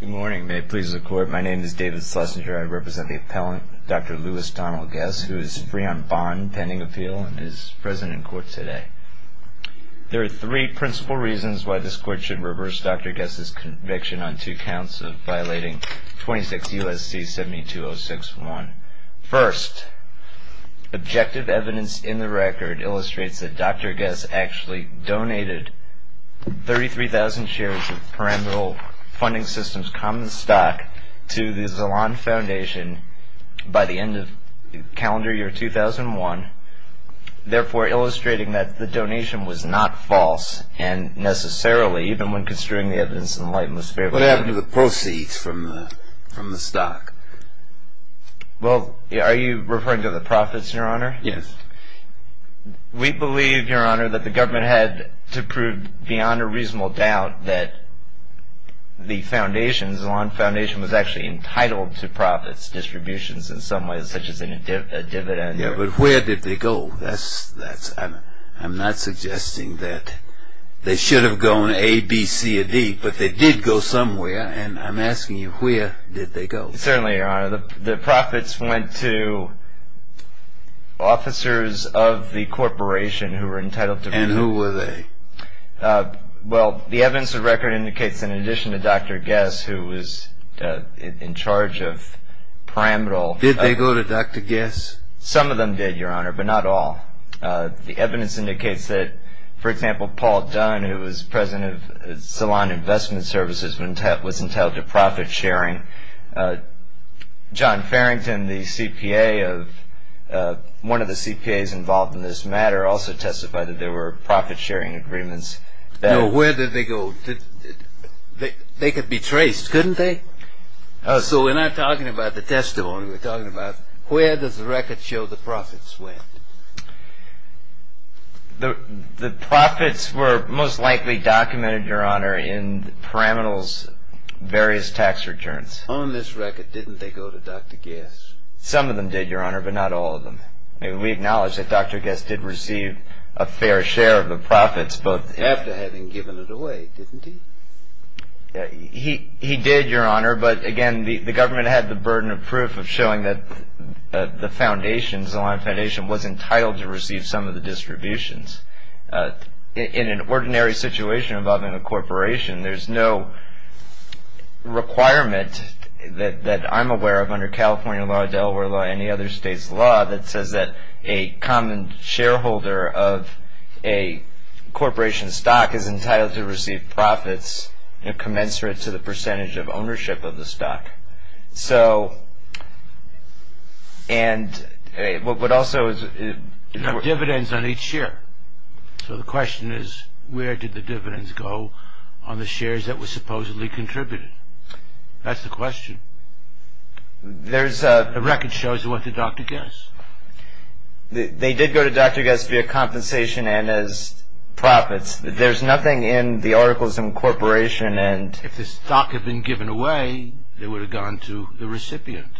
Good morning, may it please the court. My name is David Schlesinger. I represent the appellant, Dr. Lewis Donald Guess, who is free on bond pending appeal and is present in court today. There are three principal reasons why this court should reverse Dr. Guess's conviction on two counts of violating 26 U.S.C. 72061. First, objective evidence in the record illustrates that Dr. Guess actually donated 33,000 shares of Perennial Funding System's common stock to the Zaland Foundation by the end of calendar year 2001, therefore illustrating that the donation was not false, and necessarily, even when construing the evidence in the light and the spirit of God. What happened to the proceeds from the stock? Well, are you referring to the profits, your honor? We believe, your honor, that the government had to prove beyond a reasonable doubt that the Zaland Foundation was actually entitled to profits, distributions in some ways, such as a dividend. Yeah, but where did they go? I'm not suggesting that they should have gone A, B, C, or D, but they did go somewhere, and I'm asking you, where did they go? Certainly, your honor. The profits went to officers of the corporation who were entitled to profits. And who were they? Well, the evidence of record indicates, in addition to Dr. Guess, who was in charge of Perennial. Did they go to Dr. Guess? Some of them did, your honor, but not all. The evidence indicates that, for example, Paul Dunn, who was president of Zaland Investment Services, was entitled to profit sharing. John Farrington, one of the CPAs involved in this matter, also testified that there were profit sharing agreements. Now, where did they go? They could be traced, couldn't they? So we're not talking about the testimony, we're talking about where does the record show the profits went? The profits were most likely documented, your honor, in Perennial's various tax returns. On this record, didn't they go to Dr. Guess? Some of them did, your honor, but not all of them. We acknowledge that Dr. Guess did receive a fair share of the profits, but... After having given it away, didn't he? He did, your honor, but again, the government had the burden of proof of showing that the foundation, Zaland Foundation, was entitled to receive some of the distributions. In an ordinary situation involving a corporation, there's no requirement that I'm aware of under California law, Delaware law, or any other state's law that says that a common shareholder of a corporation's stock is entitled to receive profits commensurate to the percentage of ownership of the stock. So, and what also is... There were dividends on each share. So the question is, where did the dividends go on the shares that were supposedly contributed? That's the question. There's a... The record shows they went to Dr. Guess. They did go to Dr. Guess via compensation and as profits. There's nothing in the articles in Corporation and... If the stock had been given away, they would have gone to the recipient.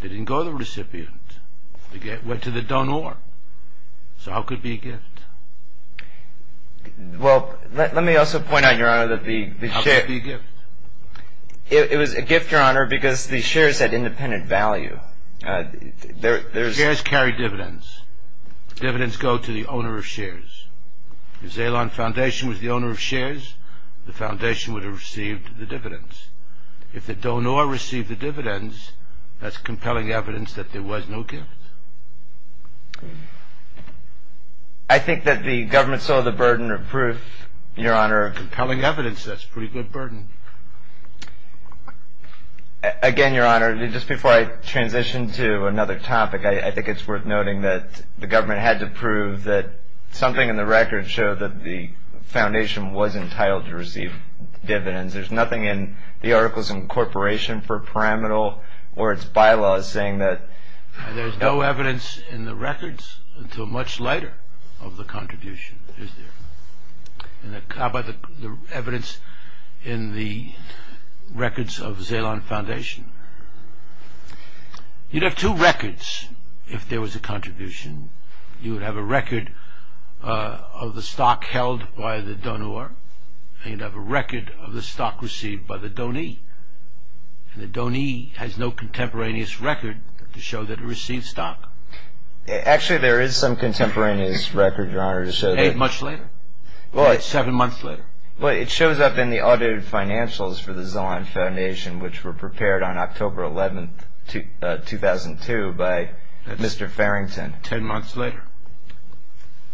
They didn't go to the recipient. They went to the donor. So how could it be a gift? Well, let me also point out, your honor, that the... How could it be a gift? It was a gift, your honor, because the shares had independent value. There's... Shares carry dividends. Dividends go to the owner of shares. If Zalon Foundation was the owner of shares, the foundation would have received the dividends. If the donor received the dividends, that's compelling evidence that there was no gift. I think that the government saw the burden of proof, your honor. Compelling evidence. That's a pretty good burden. Again, your honor, just before I transition to another topic, I think it's worth noting that the government had to prove that something in the record showed that the foundation was entitled to receive dividends. There's nothing in the articles in Corporation for pyramidal or its bylaws saying that... There's no evidence in the records until much later of the contribution, is there? How about the evidence in the records of Zalon Foundation? You'd have two records if there was a contribution. You would have a record of the stock held by the donor, and you'd have a record of the stock received by the donee. And the donee has no contemporaneous record to show that it received stock. Actually, there is some contemporaneous record, your honor, to show that... You say much later? Well, it's seven months later. Well, it shows up in the audited financials for the Zalon Foundation, which were prepared on October 11, 2002, by Mr. Farrington. Ten months later.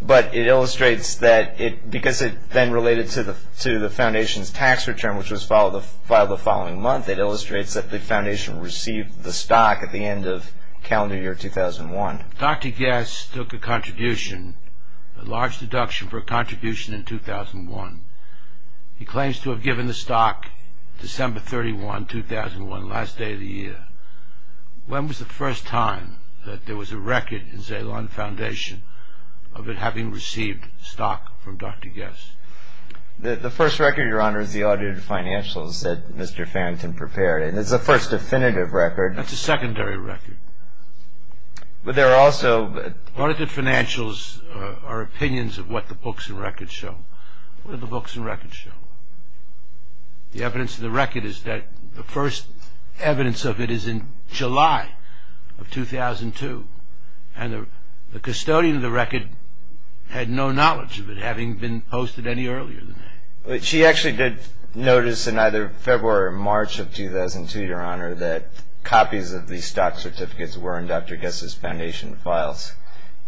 But it illustrates that because it then related to the foundation's tax return, which was filed the following month, it illustrates that the foundation received the stock at the end of calendar year 2001. Dr. Guess took a contribution, a large deduction for a contribution in 2001. He claims to have given the stock December 31, 2001, last day of the year. When was the first time that there was a record in Zalon Foundation of it having received stock from Dr. Guess? The first record, your honor, is the audited financials that Mr. Farrington prepared. And it's the first definitive record. That's a secondary record. But there are also... Audited financials are opinions of what the books and records show. What do the books and records show? The evidence of the record is that the first evidence of it is in July of 2002. And the custodian of the record had no knowledge of it, having been posted any earlier than that. I'm not sure that copies of the stock certificates were in Dr. Guess's foundation files.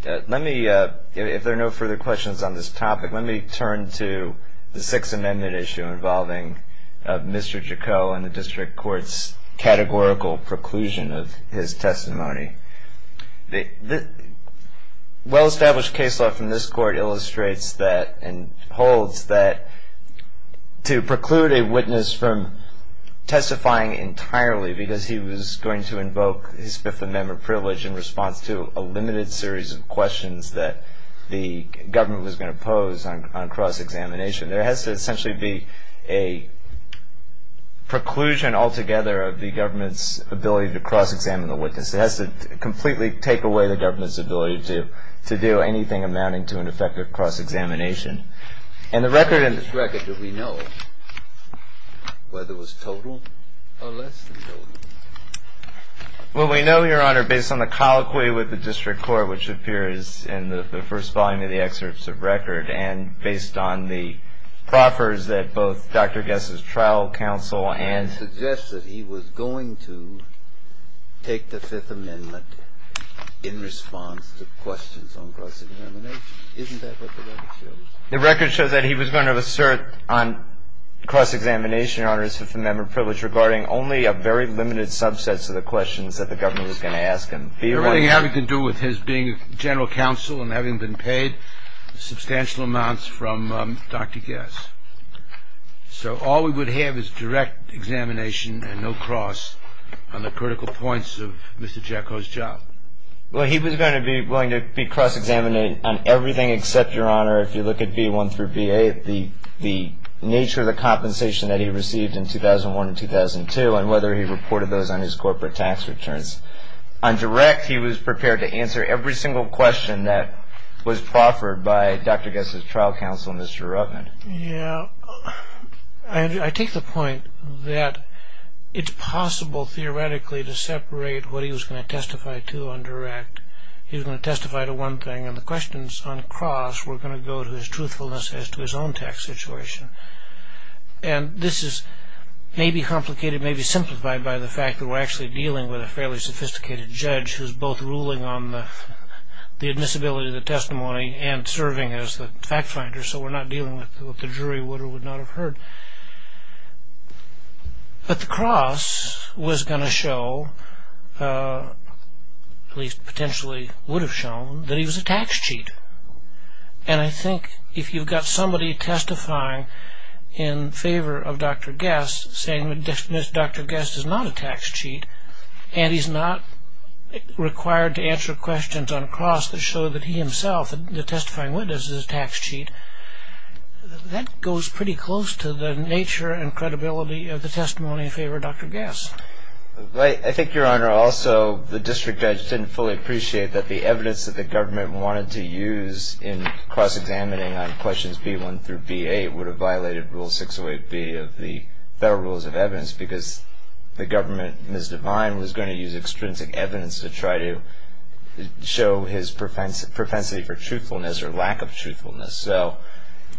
Let me, if there are no further questions on this topic, let me turn to the Sixth Amendment issue involving Mr. Jacot and the district court's categorical preclusion of his testimony. Well-established case law from this court illustrates that to preclude a witness from testifying entirely because he was going to invoke his Fifth Amendment privilege in response to a limited series of questions that the government was going to pose on cross-examination, there has to essentially be a preclusion altogether of the government's ability to cross-examine the witness. It has to completely take away the government's ability to do anything amounting to an effective cross-examination. And the record in this record, do we know whether it was total or less than total? Well, we know, Your Honor, based on the colloquy with the district court, which appears in the first volume of the excerpts of record, and based on the proffers that both Dr. Guess's trial counsel and- The record shows that he was going to assert on cross-examination on his Fifth Amendment privilege regarding only a very limited subset of the questions that the government was going to ask him. It had nothing to do with his being a general counsel and having been paid substantial amounts from Dr. Guess. So all we would have is direct examination and no cross on the critical points of Mr. Jacot's job. Well, he was going to be cross-examining on everything except, Your Honor, if you look at B1 through B8, the nature of the compensation that he received in 2001 and 2002 and whether he reported those on his corporate tax returns. On direct, he was prepared to answer every single question that was proffered by Dr. Guess's trial counsel, Mr. Rubin. what he was going to testify to on direct. He was going to testify to one thing, and the questions on cross were going to go to his truthfulness as to his own tax situation. And this is maybe complicated, maybe simplified by the fact that we're actually dealing with a fairly sophisticated judge who's both ruling on the admissibility of the testimony and serving as the fact finder, so we're not dealing with what the jury would or would not have heard. But the cross was going to show, at least potentially would have shown, that he was a tax cheat. And I think if you've got somebody testifying in favor of Dr. Guess saying that Dr. Guess is not a tax cheat, and he's not required to answer questions on cross that show that he himself, the testifying witness, is a tax cheat, that goes pretty close to the nature and credibility of the testimony in favor of Dr. Guess. I think, Your Honor, also the district judge didn't fully appreciate that the evidence that the government wanted to use in cross-examining on questions B1 through B8 would have violated Rule 608B of the Federal Rules of Evidence because the government, Ms. Devine, was going to use extrinsic evidence to try to show his propensity for truthfulness or lack of truthfulness.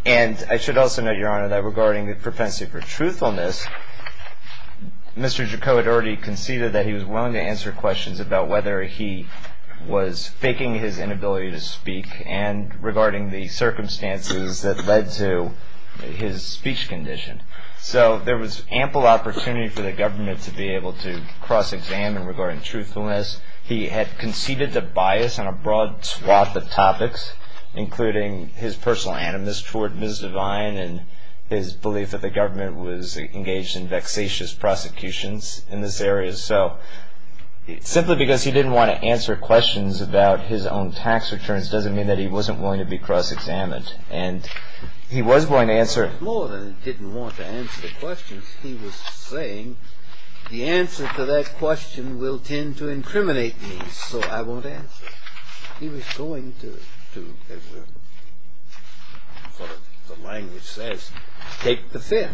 And I should also note, Your Honor, that regarding the propensity for truthfulness, Mr. Jacot had already conceded that he was willing to answer questions about whether he was faking his inability to speak and regarding the circumstances that led to his speech condition. So there was ample opportunity for the government to be able to cross-examine regarding truthfulness. He had conceded the bias on a broad swath of topics, including his personal animus toward Ms. Devine and his belief that the government was engaged in vexatious prosecutions in this area. So simply because he didn't want to answer questions about his own tax returns doesn't mean that he wasn't willing to be cross-examined. And he was willing to answer... More than he didn't want to answer the questions, he was saying the answer to that question will tend to incriminate me, so I won't answer it. He was going to, as the language says, take the fin.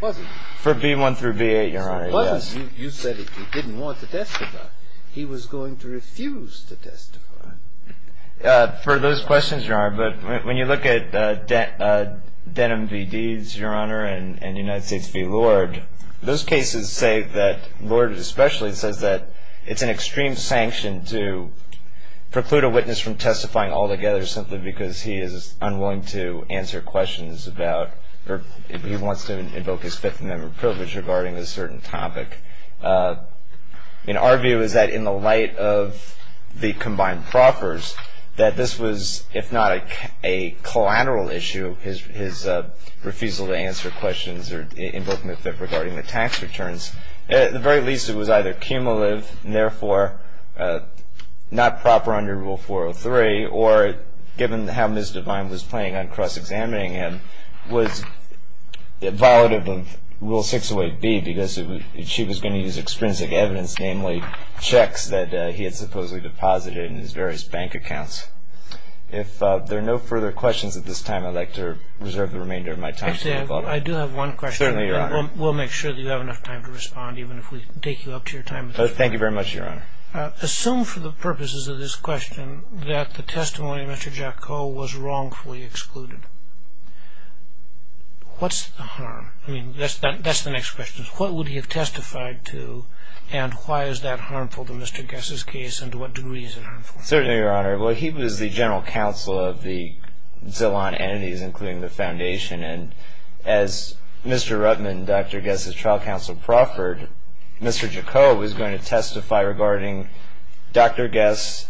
Was he? For B-1 through B-8, Your Honor, yes. You said he didn't want to testify. He was going to refuse to testify. For those questions, Your Honor, but when you look at Denim v. Deeds, Your Honor, and United States v. Lord, those cases say that Lord especially says that it's an extreme sanction to preclude a witness from testifying altogether simply because he is unwilling to answer questions about... or he wants to invoke his Fifth Amendment privilege regarding a certain topic. Our view is that in the light of the combined proffers, that this was, if not a collateral issue, his refusal to answer questions regarding the tax returns, at the very least it was either cumulative and therefore not proper under Rule 403, or given how Ms. Devine was playing on cross-examining him, was violative of Rule 608B because she was going to use extrinsic evidence, namely checks that he had supposedly deposited in his various bank accounts. If there are no further questions at this time, I'd like to reserve the remainder of my time to follow up. Actually, I do have one question. Certainly, Your Honor. We'll make sure that you have enough time to respond, even if we take you up to your time. Thank you very much, Your Honor. Assume for the purposes of this question that the testimony of Mr. Jaco was wrongfully excluded. What's the harm? I mean, that's the next question. What would he have testified to, and why is that harmful to Mr. Guess's case, and to what degree is it harmful? Certainly, Your Honor. Well, he was the general counsel of the Zillon entities, including the foundation, and as Mr. Ruttman and Dr. Guess's trial counsel proffered, Mr. Jaco was going to testify regarding Dr. Guess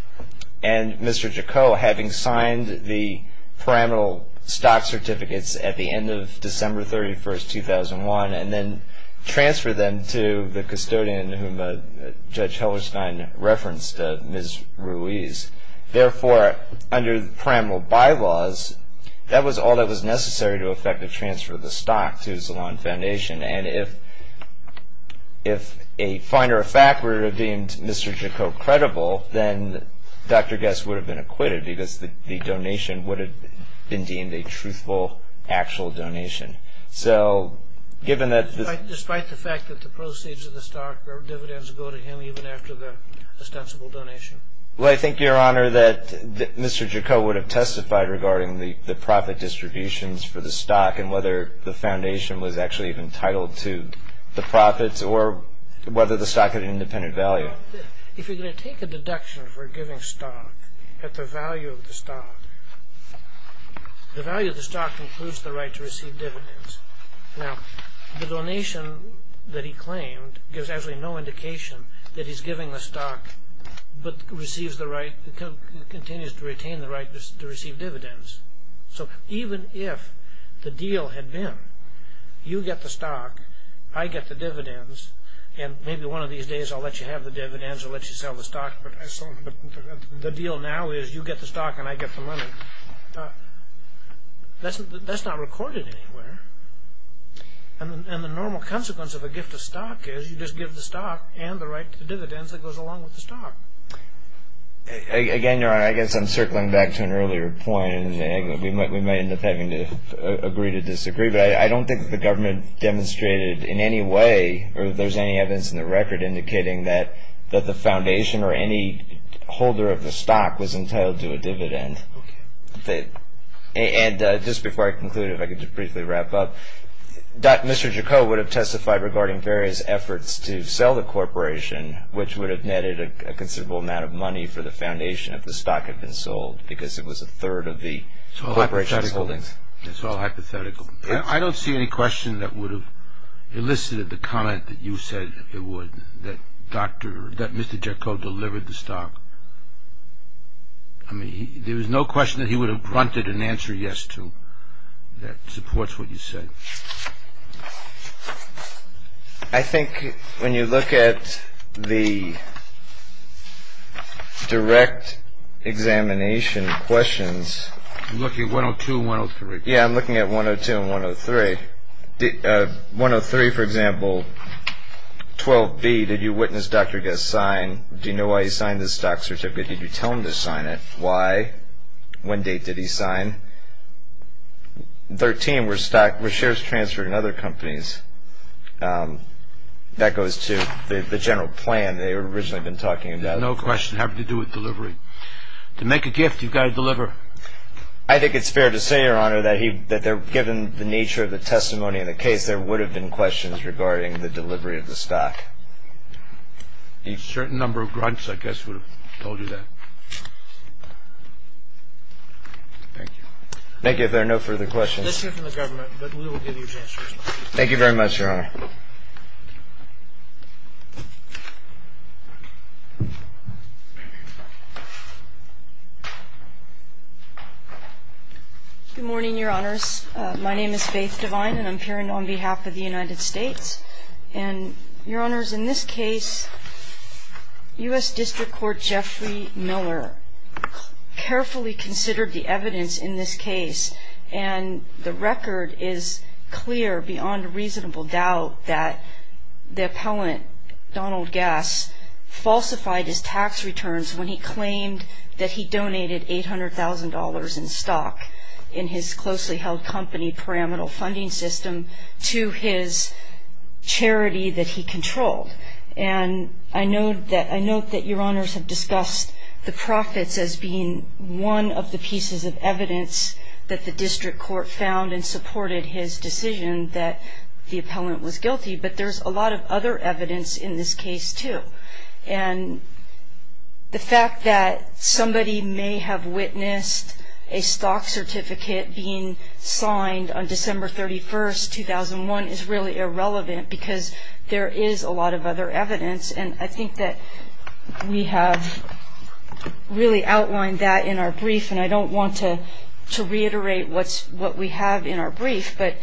and Mr. Jaco having signed the pyramidal stock certificates at the end of December 31, 2001, and then transfer them to the custodian whom Judge Hellerstein referenced, Ms. Ruiz. Therefore, under the pyramidal bylaws, that was all that was necessary to effectively transfer the stock to Zillon Foundation, and if a finder of fact were deemed Mr. Jaco credible, then Dr. Guess would have been acquitted because the donation would have been deemed a truthful, actual donation. Despite the fact that the proceeds of the stock or dividends go to him even after the ostensible donation? Well, I think, Your Honor, that Mr. Jaco would have testified regarding the profit distributions for the stock and whether the foundation was actually entitled to the profits or whether the stock had an independent value. If you're going to take a deduction for giving stock at the value of the stock, the value of the stock includes the right to receive dividends. Now, the donation that he claimed gives actually no indication that he's giving the stock but continues to retain the right to receive dividends. So even if the deal had been, you get the stock, I get the dividends, and maybe one of these days I'll let you have the dividends or let you sell the stock, but the deal now is you get the stock and I get the money, that's not recorded anywhere. And the normal consequence of a gift of stock is you just give the stock and the right to the dividends that goes along with the stock. Again, Your Honor, I guess I'm circling back to an earlier point, and we might end up having to agree to disagree, but I don't think that the government demonstrated in any way or that there's any evidence in the record indicating that the foundation or any holder of the stock was entitled to a dividend. And just before I conclude, if I could just briefly wrap up, Mr. Jacot would have testified regarding various efforts to sell the corporation, which would have netted a considerable amount of money for the foundation if the stock had been sold because it was a third of the corporation's holdings. It's all hypothetical. I don't see any question that would have elicited the comment that you said it would, that Dr. or that Mr. Jacot delivered the stock. I mean, there was no question that he would have grunted an answer yes to that supports what you said. I think when you look at the direct examination questions. You're looking at 102 and 103. Yeah, I'm looking at 102 and 103. 103, for example. 12B, did you witness Dr. Guess sign? Do you know why he signed this stock certificate? Did you tell him to sign it? Why? When date did he sign? 13, were shares transferred in other companies? That goes to the general plan they had originally been talking about. No question having to do with delivery. To make a gift, you've got to deliver. I think it's fair to say, Your Honor, that given the nature of the testimony in the case, there would have been questions regarding the delivery of the stock. A certain number of grunts, I guess, would have told you that. Thank you. Thank you. If there are no further questions. Let's hear from the government, but we will give you a chance to respond. Thank you very much, Your Honor. Good morning, Your Honors. My name is Faith Devine, and I'm appearing on behalf of the United States. And, Your Honors, in this case, U.S. District Court Jeffrey Miller carefully considered the evidence in this case, and the record is clear beyond reasonable doubt that the appellant, Donald Gass, falsified his tax returns when he claimed that he donated $800,000 in stock in his closely held company pyramidal funding system to his charity that he controlled. And I note that Your Honors have discussed the profits as being one of the pieces of evidence that the district court found and supported his decision that the appellant was guilty, but there's a lot of other evidence in this case, too. And the fact that somebody may have witnessed a stock certificate being signed on December 31st, 2001, is really irrelevant because there is a lot of other evidence, and I think that we have really outlined that in our brief, and I don't want to reiterate what we have in our brief, but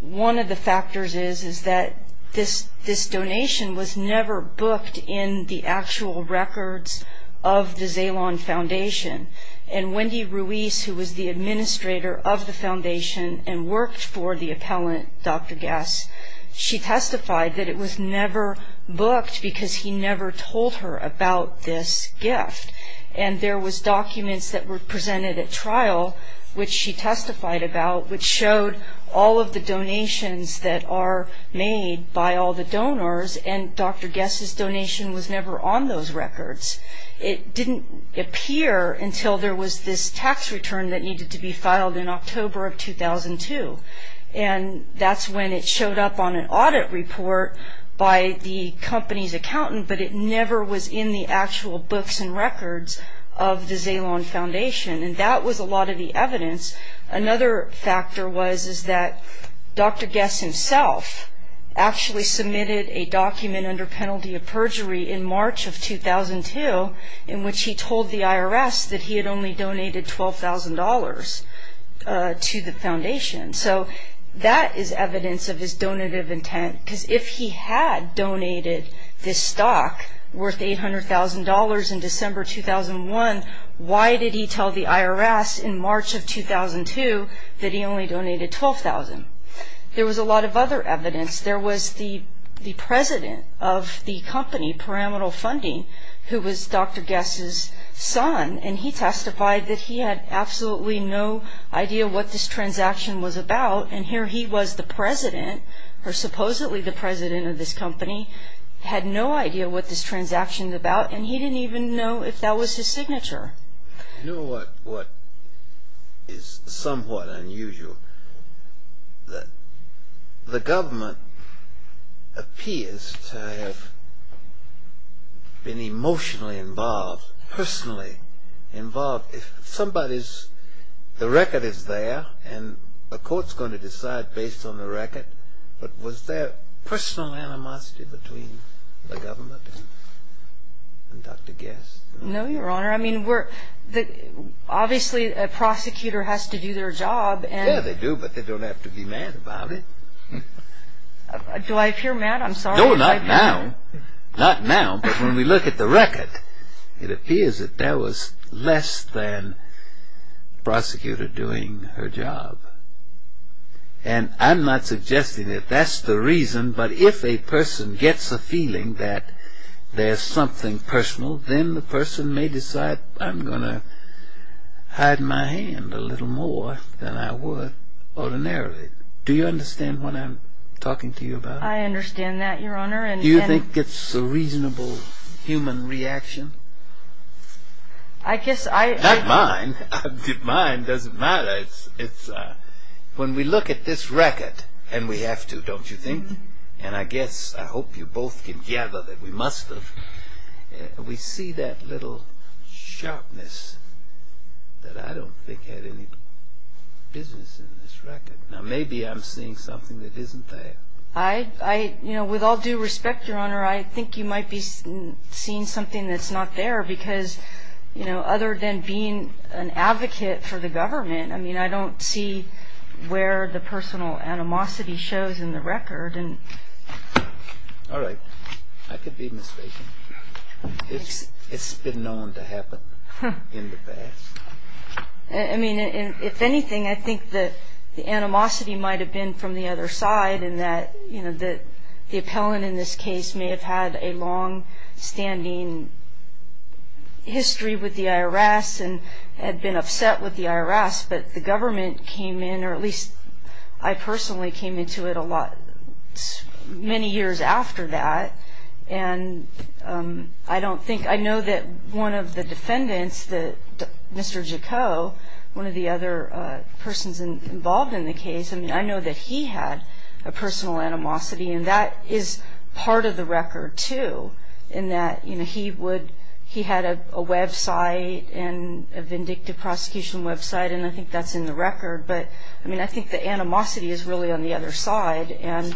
one of the factors is that this donation was never booked in the actual records of the Zalon Foundation. And Wendy Ruiz, who was the administrator of the foundation and worked for the appellant, Dr. Gass, she testified that it was never booked because he never told her about this gift. And there was documents that were presented at trial, which she testified about, which showed all of the donations that are made by all the donors, and Dr. Gass's donation was never on those records. It didn't appear until there was this tax return that needed to be filed in October of 2002, and that's when it showed up on an audit report by the company's accountant, but it never was in the actual books and records of the Zalon Foundation, and that was a lot of the evidence. Another factor was that Dr. Gass himself actually submitted a document under penalty of perjury in March of 2002 in which he told the IRS that he had only donated $12,000 to the foundation. So that is evidence of his donative intent, because if he had donated this stock worth $800,000 in December 2001, why did he tell the IRS in March of 2002 that he only donated $12,000? There was a lot of other evidence. There was the president of the company, Parametal Funding, who was Dr. Gass's son, and he testified that he had absolutely no idea what this transaction was about, and here he was, the president, or supposedly the president of this company, had no idea what this transaction was about, and he didn't even know if that was his signature. You know what is somewhat unusual? The government appears to have been emotionally involved, personally involved. If somebody's, the record is there, and the court's going to decide based on the record, but was there personal animosity between the government and Dr. Gass? No, Your Honor. I mean, obviously a prosecutor has to do their job. Yeah, they do, but they don't have to be mad about it. Do I appear mad? I'm sorry. No, not now. Not now, but when we look at the record, it appears that there was less than the prosecutor doing her job, and I'm not suggesting that that's the reason, but if a person gets a feeling that there's something personal, then the person may decide, I'm going to hide my hand a little more than I would ordinarily. Do you understand what I'm talking to you about? I understand that, Your Honor. Do you think it's a reasonable human reaction? I guess I... Not mine. Mine doesn't matter. When we look at this record, and we have to, don't you think? And I guess, I hope you both can gather that we must have, we see that little sharpness that I don't think had any business in this record. Now, maybe I'm seeing something that isn't there. I, you know, with all due respect, Your Honor, I think you might be seeing something that's not there, because, you know, other than being an advocate for the government, I mean, I don't see where the personal animosity shows in the record, and... All right. I could be mistaken. It's been known to happen in the past. I mean, if anything, I think that the animosity might have been from the other side, in that, you know, the appellant in this case may have had a longstanding history with the IRS and had been upset with the IRS, but the government came in, or at least I personally came into it many years after that, and I don't think... I know that one of the defendants, Mr. Jacot, one of the other persons involved in the case, I mean, I know that he had a personal animosity, and that is part of the record, too, in that, you know, he would... he had a website, a vindictive prosecution website, and I think that's in the record, but, I mean, I think the animosity is really on the other side, and,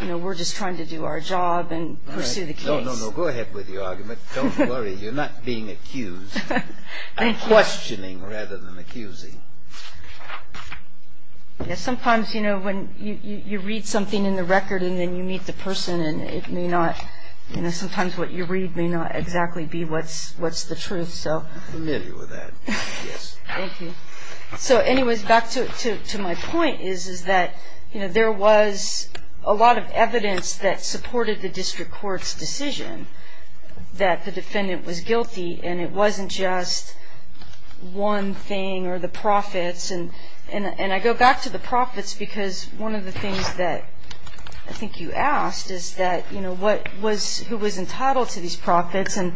you know, we're just trying to do our job and pursue the case. No, no, no. Go ahead with your argument. Don't worry. You're not being accused. I'm questioning rather than accusing. Yes, sometimes, you know, when you read something in the record, and then you meet the person, and it may not, you know, sometimes what you read may not exactly be what's the truth, so... I'm familiar with that, yes. Thank you. So, anyways, back to my point, is that, you know, there was a lot of evidence that supported the district court's decision that the defendant was guilty, and it wasn't just one thing or the profits, and I go back to the profits, because one of the things that I think you asked is that, you know, what was... who was entitled to these profits, and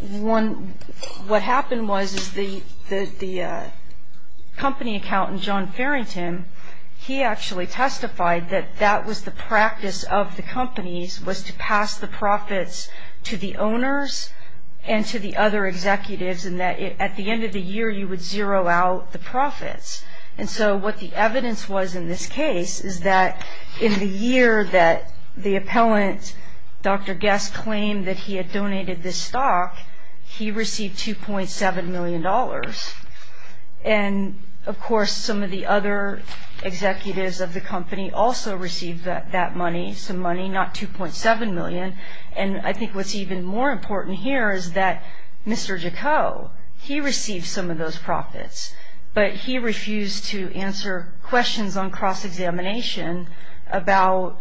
one... what happened was the company accountant, John Farrington, he actually testified that that was the practice of the companies, was to pass the profits to the owners and to the other executives, and that at the end of the year, you would zero out the profits. And so what the evidence was in this case is that in the year that the appellant, Dr. Guest, claimed that he had donated this stock, he received $2.7 million. And, of course, some of the other executives of the company also received that money, some money, not $2.7 million, and I think what's even more important here is that questions on cross-examination about,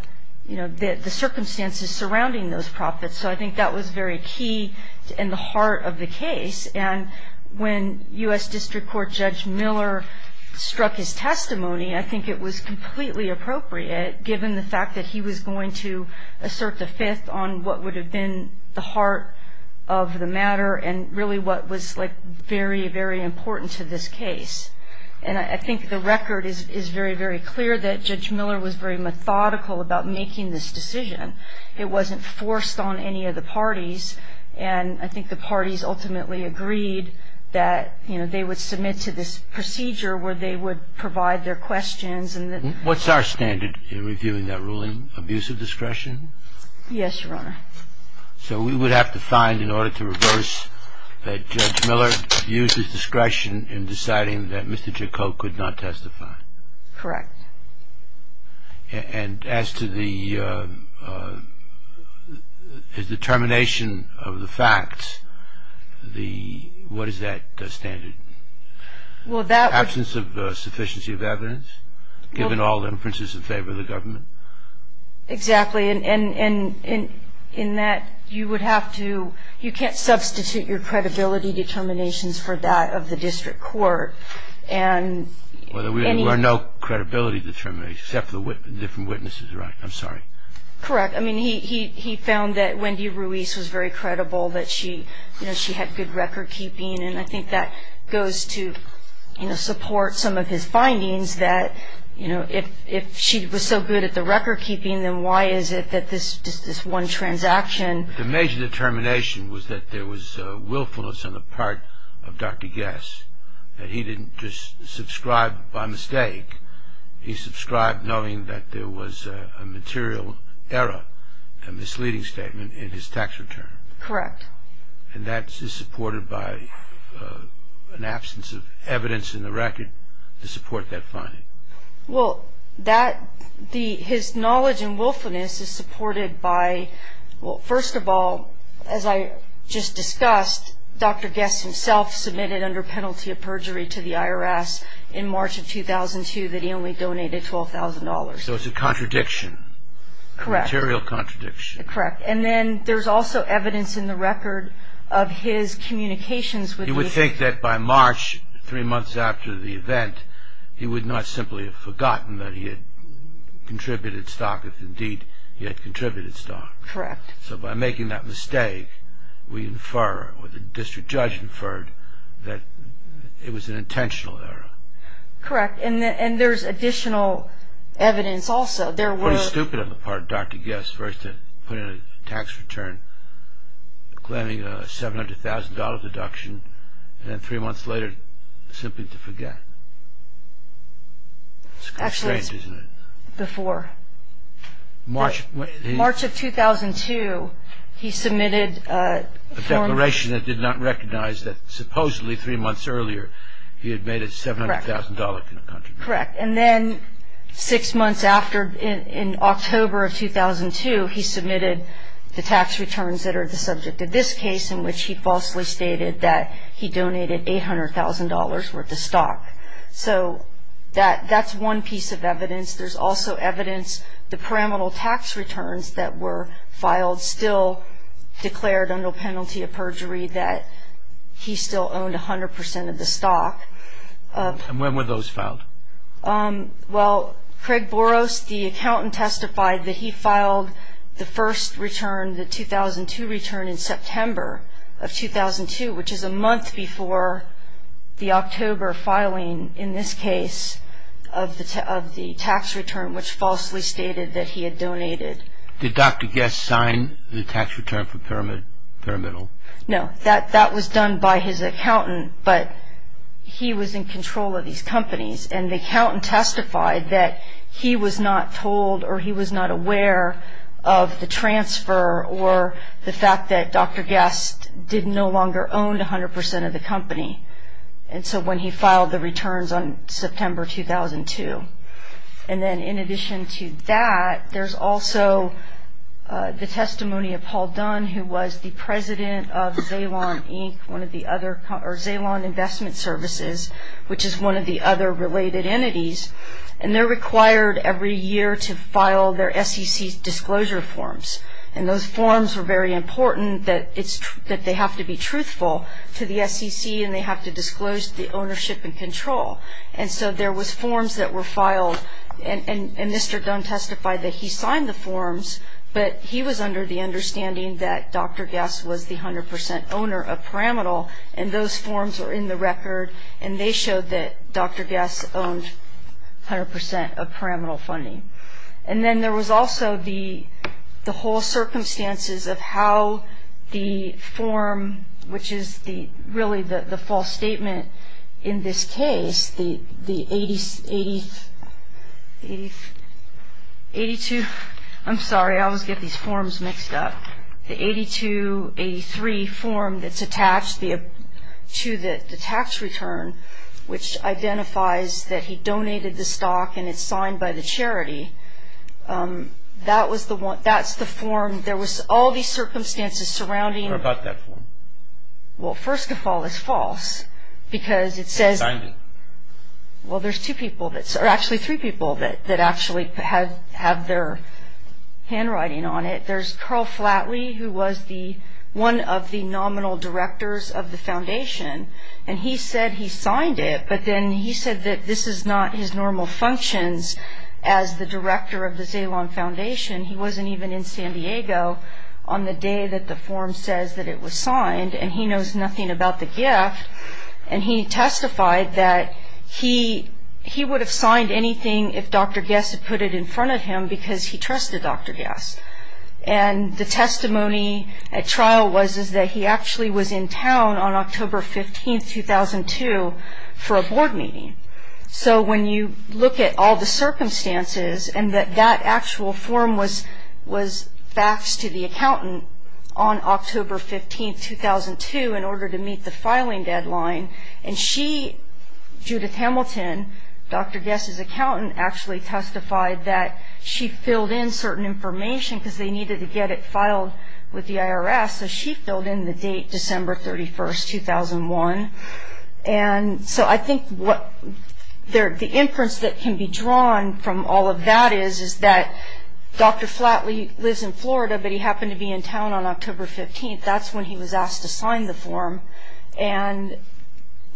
you know, the circumstances surrounding those profits, so I think that was very key in the heart of the case. And when U.S. District Court Judge Miller struck his testimony, I think it was completely appropriate, given the fact that he was going to assert the fifth on what would have been the heart of the matter and really what was, like, very, very important to this case. And I think the record is very, very clear that Judge Miller was very methodical about making this decision. It wasn't forced on any of the parties, and I think the parties ultimately agreed that, you know, they would submit to this procedure where they would provide their questions. What's our standard in reviewing that ruling, abuse of discretion? Yes, Your Honor. So we would have to find, in order to reverse, that Judge Miller abused his discretion in deciding that Mr. Jacob could not testify? Correct. And as to the determination of the facts, what is that standard? Absence of sufficiency of evidence, given all inferences in favor of the government? Exactly, and in that, you would have to, you can't substitute your credibility determinations for that of the district court. Well, there were no credibility determinations, except for the different witnesses, right? I'm sorry. Correct. I mean, he found that Wendy Ruiz was very credible, that, you know, she had good record keeping, and I think that goes to, you know, support some of his findings that, you know, if she was so good at the record keeping, then why is it that this one transaction? The major determination was that there was willfulness on the part of Dr. Guess, that he didn't just subscribe by mistake. He subscribed knowing that there was a material error, a misleading statement in his tax return. Correct. And that is supported by an absence of evidence in the record to support that finding. Well, that, his knowledge and willfulness is supported by, well, first of all, as I just discussed, Dr. Guess himself submitted under penalty of perjury to the IRS in March of 2002 that he only donated $12,000. So it's a contradiction. Correct. A material contradiction. Correct. And then there's also evidence in the record of his communications with the- He would think that by March, three months after the event, he would not simply have forgotten that he had contributed stock if, indeed, he had contributed stock. Correct. So by making that mistake, we infer, or the district judge inferred, that it was an intentional error. Correct. And there's additional evidence also. It's pretty stupid on the part of Dr. Guess, first to put in a tax return claiming a $700,000 deduction, and then three months later, simply to forget. It's strange, isn't it? Actually, it's before. March of 2002, he submitted- A declaration that did not recognize that supposedly three months earlier he had made a $700,000 contribution. Correct. And then six months after, in October of 2002, he submitted the tax returns that are the subject of this case, in which he falsely stated that he donated $800,000 worth of stock. So that's one piece of evidence. There's also evidence the pyramidal tax returns that were filed still declared under penalty of perjury that he still owned 100% of the stock. And when were those filed? Well, Craig Boros, the accountant, testified that he filed the first return, the 2002 return, in September of 2002, which is a month before the October filing, in this case, of the tax return, which falsely stated that he had donated. Did Dr. Guess sign the tax return for Pyramidal? No. That was done by his accountant, but he was in control of these companies, and the accountant testified that he was not told or he was not aware of the transfer or the fact that Dr. Guess no longer owned 100% of the company. And so when he filed the returns on September 2002. And then in addition to that, there's also the testimony of Paul Dunn, who was the president of Zalon Inc., one of the other, or Zalon Investment Services, which is one of the other related entities. And they're required every year to file their SEC disclosure forms, and those forms were very important that they have to be truthful to the SEC and they have to disclose the ownership and control. And so there was forms that were filed, and Mr. Dunn testified that he signed the forms, but he was under the understanding that Dr. Guess was the 100% owner of Pyramidal, and those forms were in the record, and they showed that Dr. Guess owned 100% of Pyramidal funding. And then there was also the whole circumstances of how the form, which is really the false statement in this case, the 8282. I'm sorry, I always get these forms mixed up. The 8283 form that's attached to the tax return, which identifies that he donated the stock and it's signed by the charity, that's the form. There was all these circumstances surrounding. Tell me more about that form. Well, first of all, it's false because it says. Signed it. Well, there's two people, or actually three people that actually have their handwriting on it. There's Carl Flatley, who was one of the nominal directors of the foundation, and he said he signed it, but then he said that this is not his normal functions as the director of the Zalon Foundation. He wasn't even in San Diego on the day that the form says that it was signed, and he knows nothing about the gift. And he testified that he would have signed anything if Dr. Guess had put it in front of him because he trusted Dr. Guess. And the testimony at trial was that he actually was in town on October 15, 2002, for a board meeting. So when you look at all the circumstances and that that actual form was faxed to the accountant on October 15, 2002, in order to meet the filing deadline, and she, Judith Hamilton, Dr. Guess's accountant, actually testified that she filled in certain information because they needed to get it filed with the IRS, so she filled in the date, December 31, 2001. And so I think the inference that can be drawn from all of that is that Dr. Flatley lives in Florida, but he happened to be in town on October 15. That's when he was asked to sign the form, and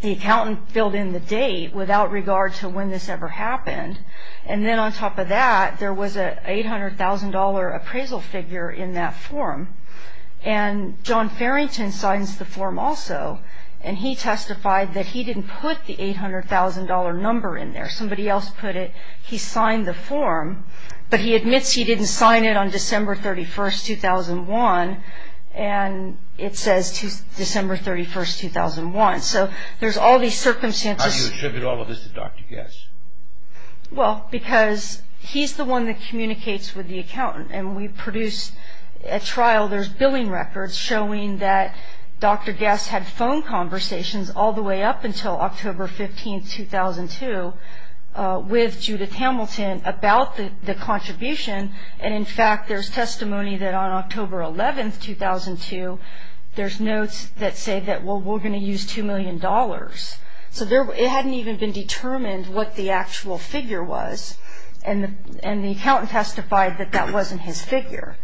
the accountant filled in the date without regard to when this ever happened. And then on top of that, there was an $800,000 appraisal figure in that form, and John Farrington signs the form also, and he testified that he didn't put the $800,000 number in there. Somebody else put it. He signed the form, but he admits he didn't sign it on December 31, 2001, and it says December 31, 2001. So there's all these circumstances. How do you attribute all of this to Dr. Guess? Well, because he's the one that communicates with the accountant, and we produced a trial, there's billing records showing that Dr. Guess had phone conversations all the way up until October 15, 2002 with Judith Hamilton about the contribution, and in fact there's testimony that on October 11, 2002, there's notes that say that, well, we're going to use $2 million. So it hadn't even been determined what the actual figure was, and the accountant testified that that wasn't his figure.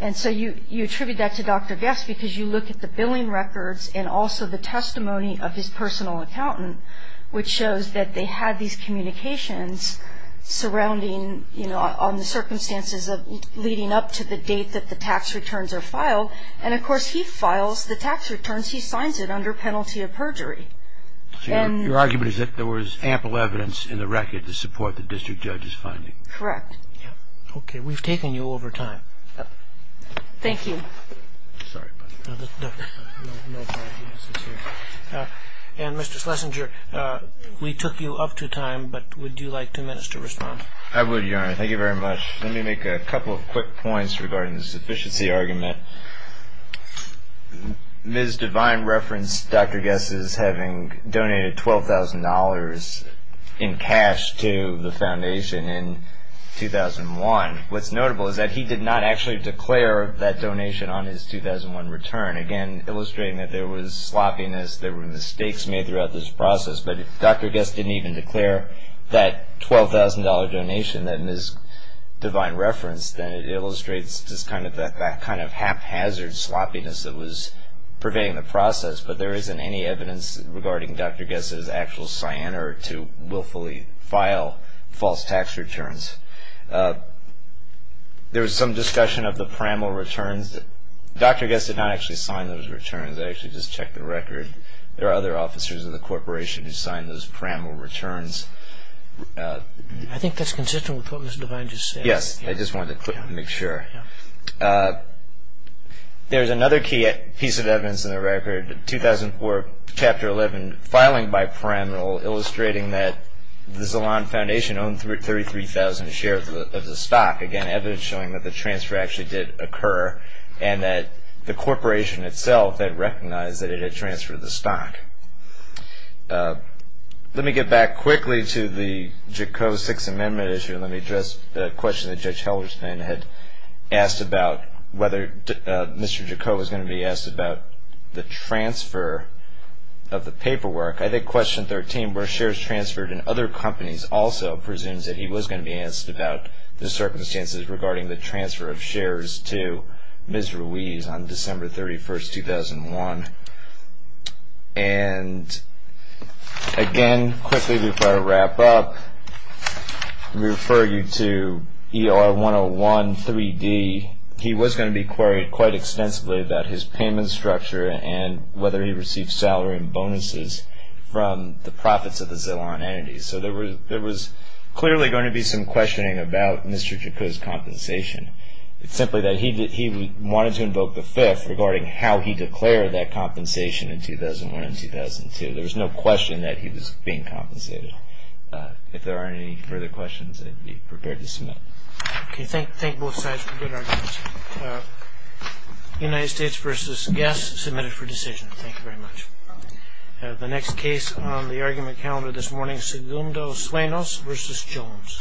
And so you attribute that to Dr. Guess because you look at the billing records and also the testimony of his personal accountant, which shows that they had these communications surrounding, you know, on the circumstances of leading up to the date that the tax returns are filed, and of course he files the tax returns. He signs it under penalty of perjury. So your argument is that there was ample evidence in the record to support the district judge's finding? Correct. Okay. We've taken you over time. Thank you. Sorry about that. No problem. And Mr. Schlesinger, we took you up to time, but would you like two minutes to respond? I would, Your Honor. Thank you very much. Let me make a couple of quick points regarding the sufficiency argument. Ms. Devine referenced Dr. Guess as having donated $12,000 in cash to the foundation in 2001. What's notable is that he did not actually declare that donation on his 2001 return, again illustrating that there was sloppiness, there were mistakes made throughout this process, but if Dr. Guess didn't even declare that $12,000 donation that Ms. Devine referenced, then it illustrates just kind of that haphazard sloppiness that was pervading the process, but there isn't any evidence regarding Dr. Guess's actual cyanide to willfully file false tax returns. There was some discussion of the Praml returns. Dr. Guess did not actually sign those returns. I actually just checked the record. There are other officers in the corporation who signed those Praml returns. I think that's consistent with what Ms. Devine just said. Yes, I just wanted to make sure. There's another key piece of evidence in the record, 2004, Chapter 11, filing by Praml, illustrating that the Zalon Foundation owned 33,000 shares of the stock, again evidence showing that the transfer actually did occur and that the corporation itself had recognized that it had transferred the stock. Let me get back quickly to the Jakob Sixth Amendment issue. Let me address the question that Judge Heldersman had asked about whether Mr. Jakob was going to be asked about the transfer of the paperwork. I think question 13, where shares transferred in other companies, also presumes that he was going to be asked about the circumstances regarding the transfer of shares to Ms. Ruiz on December 31, 2001. Again, quickly before I wrap up, let me refer you to ER-101-3D. He was going to be queried quite extensively about his payment structure and whether he received salary and bonuses from the profits of the Zalon entities. There was clearly going to be some questioning about Mr. Jakob's compensation. It's simply that he wanted to invoke the Fifth regarding how he declared that compensation in 2001 and 2002. There was no question that he was being compensated. If there aren't any further questions, I'd be prepared to submit. Okay, thank both sides for good arguments. United States v. Guess, submitted for decision. Thank you very much. The next case on the argument calendar this morning, Segundo Suenos v. Jones.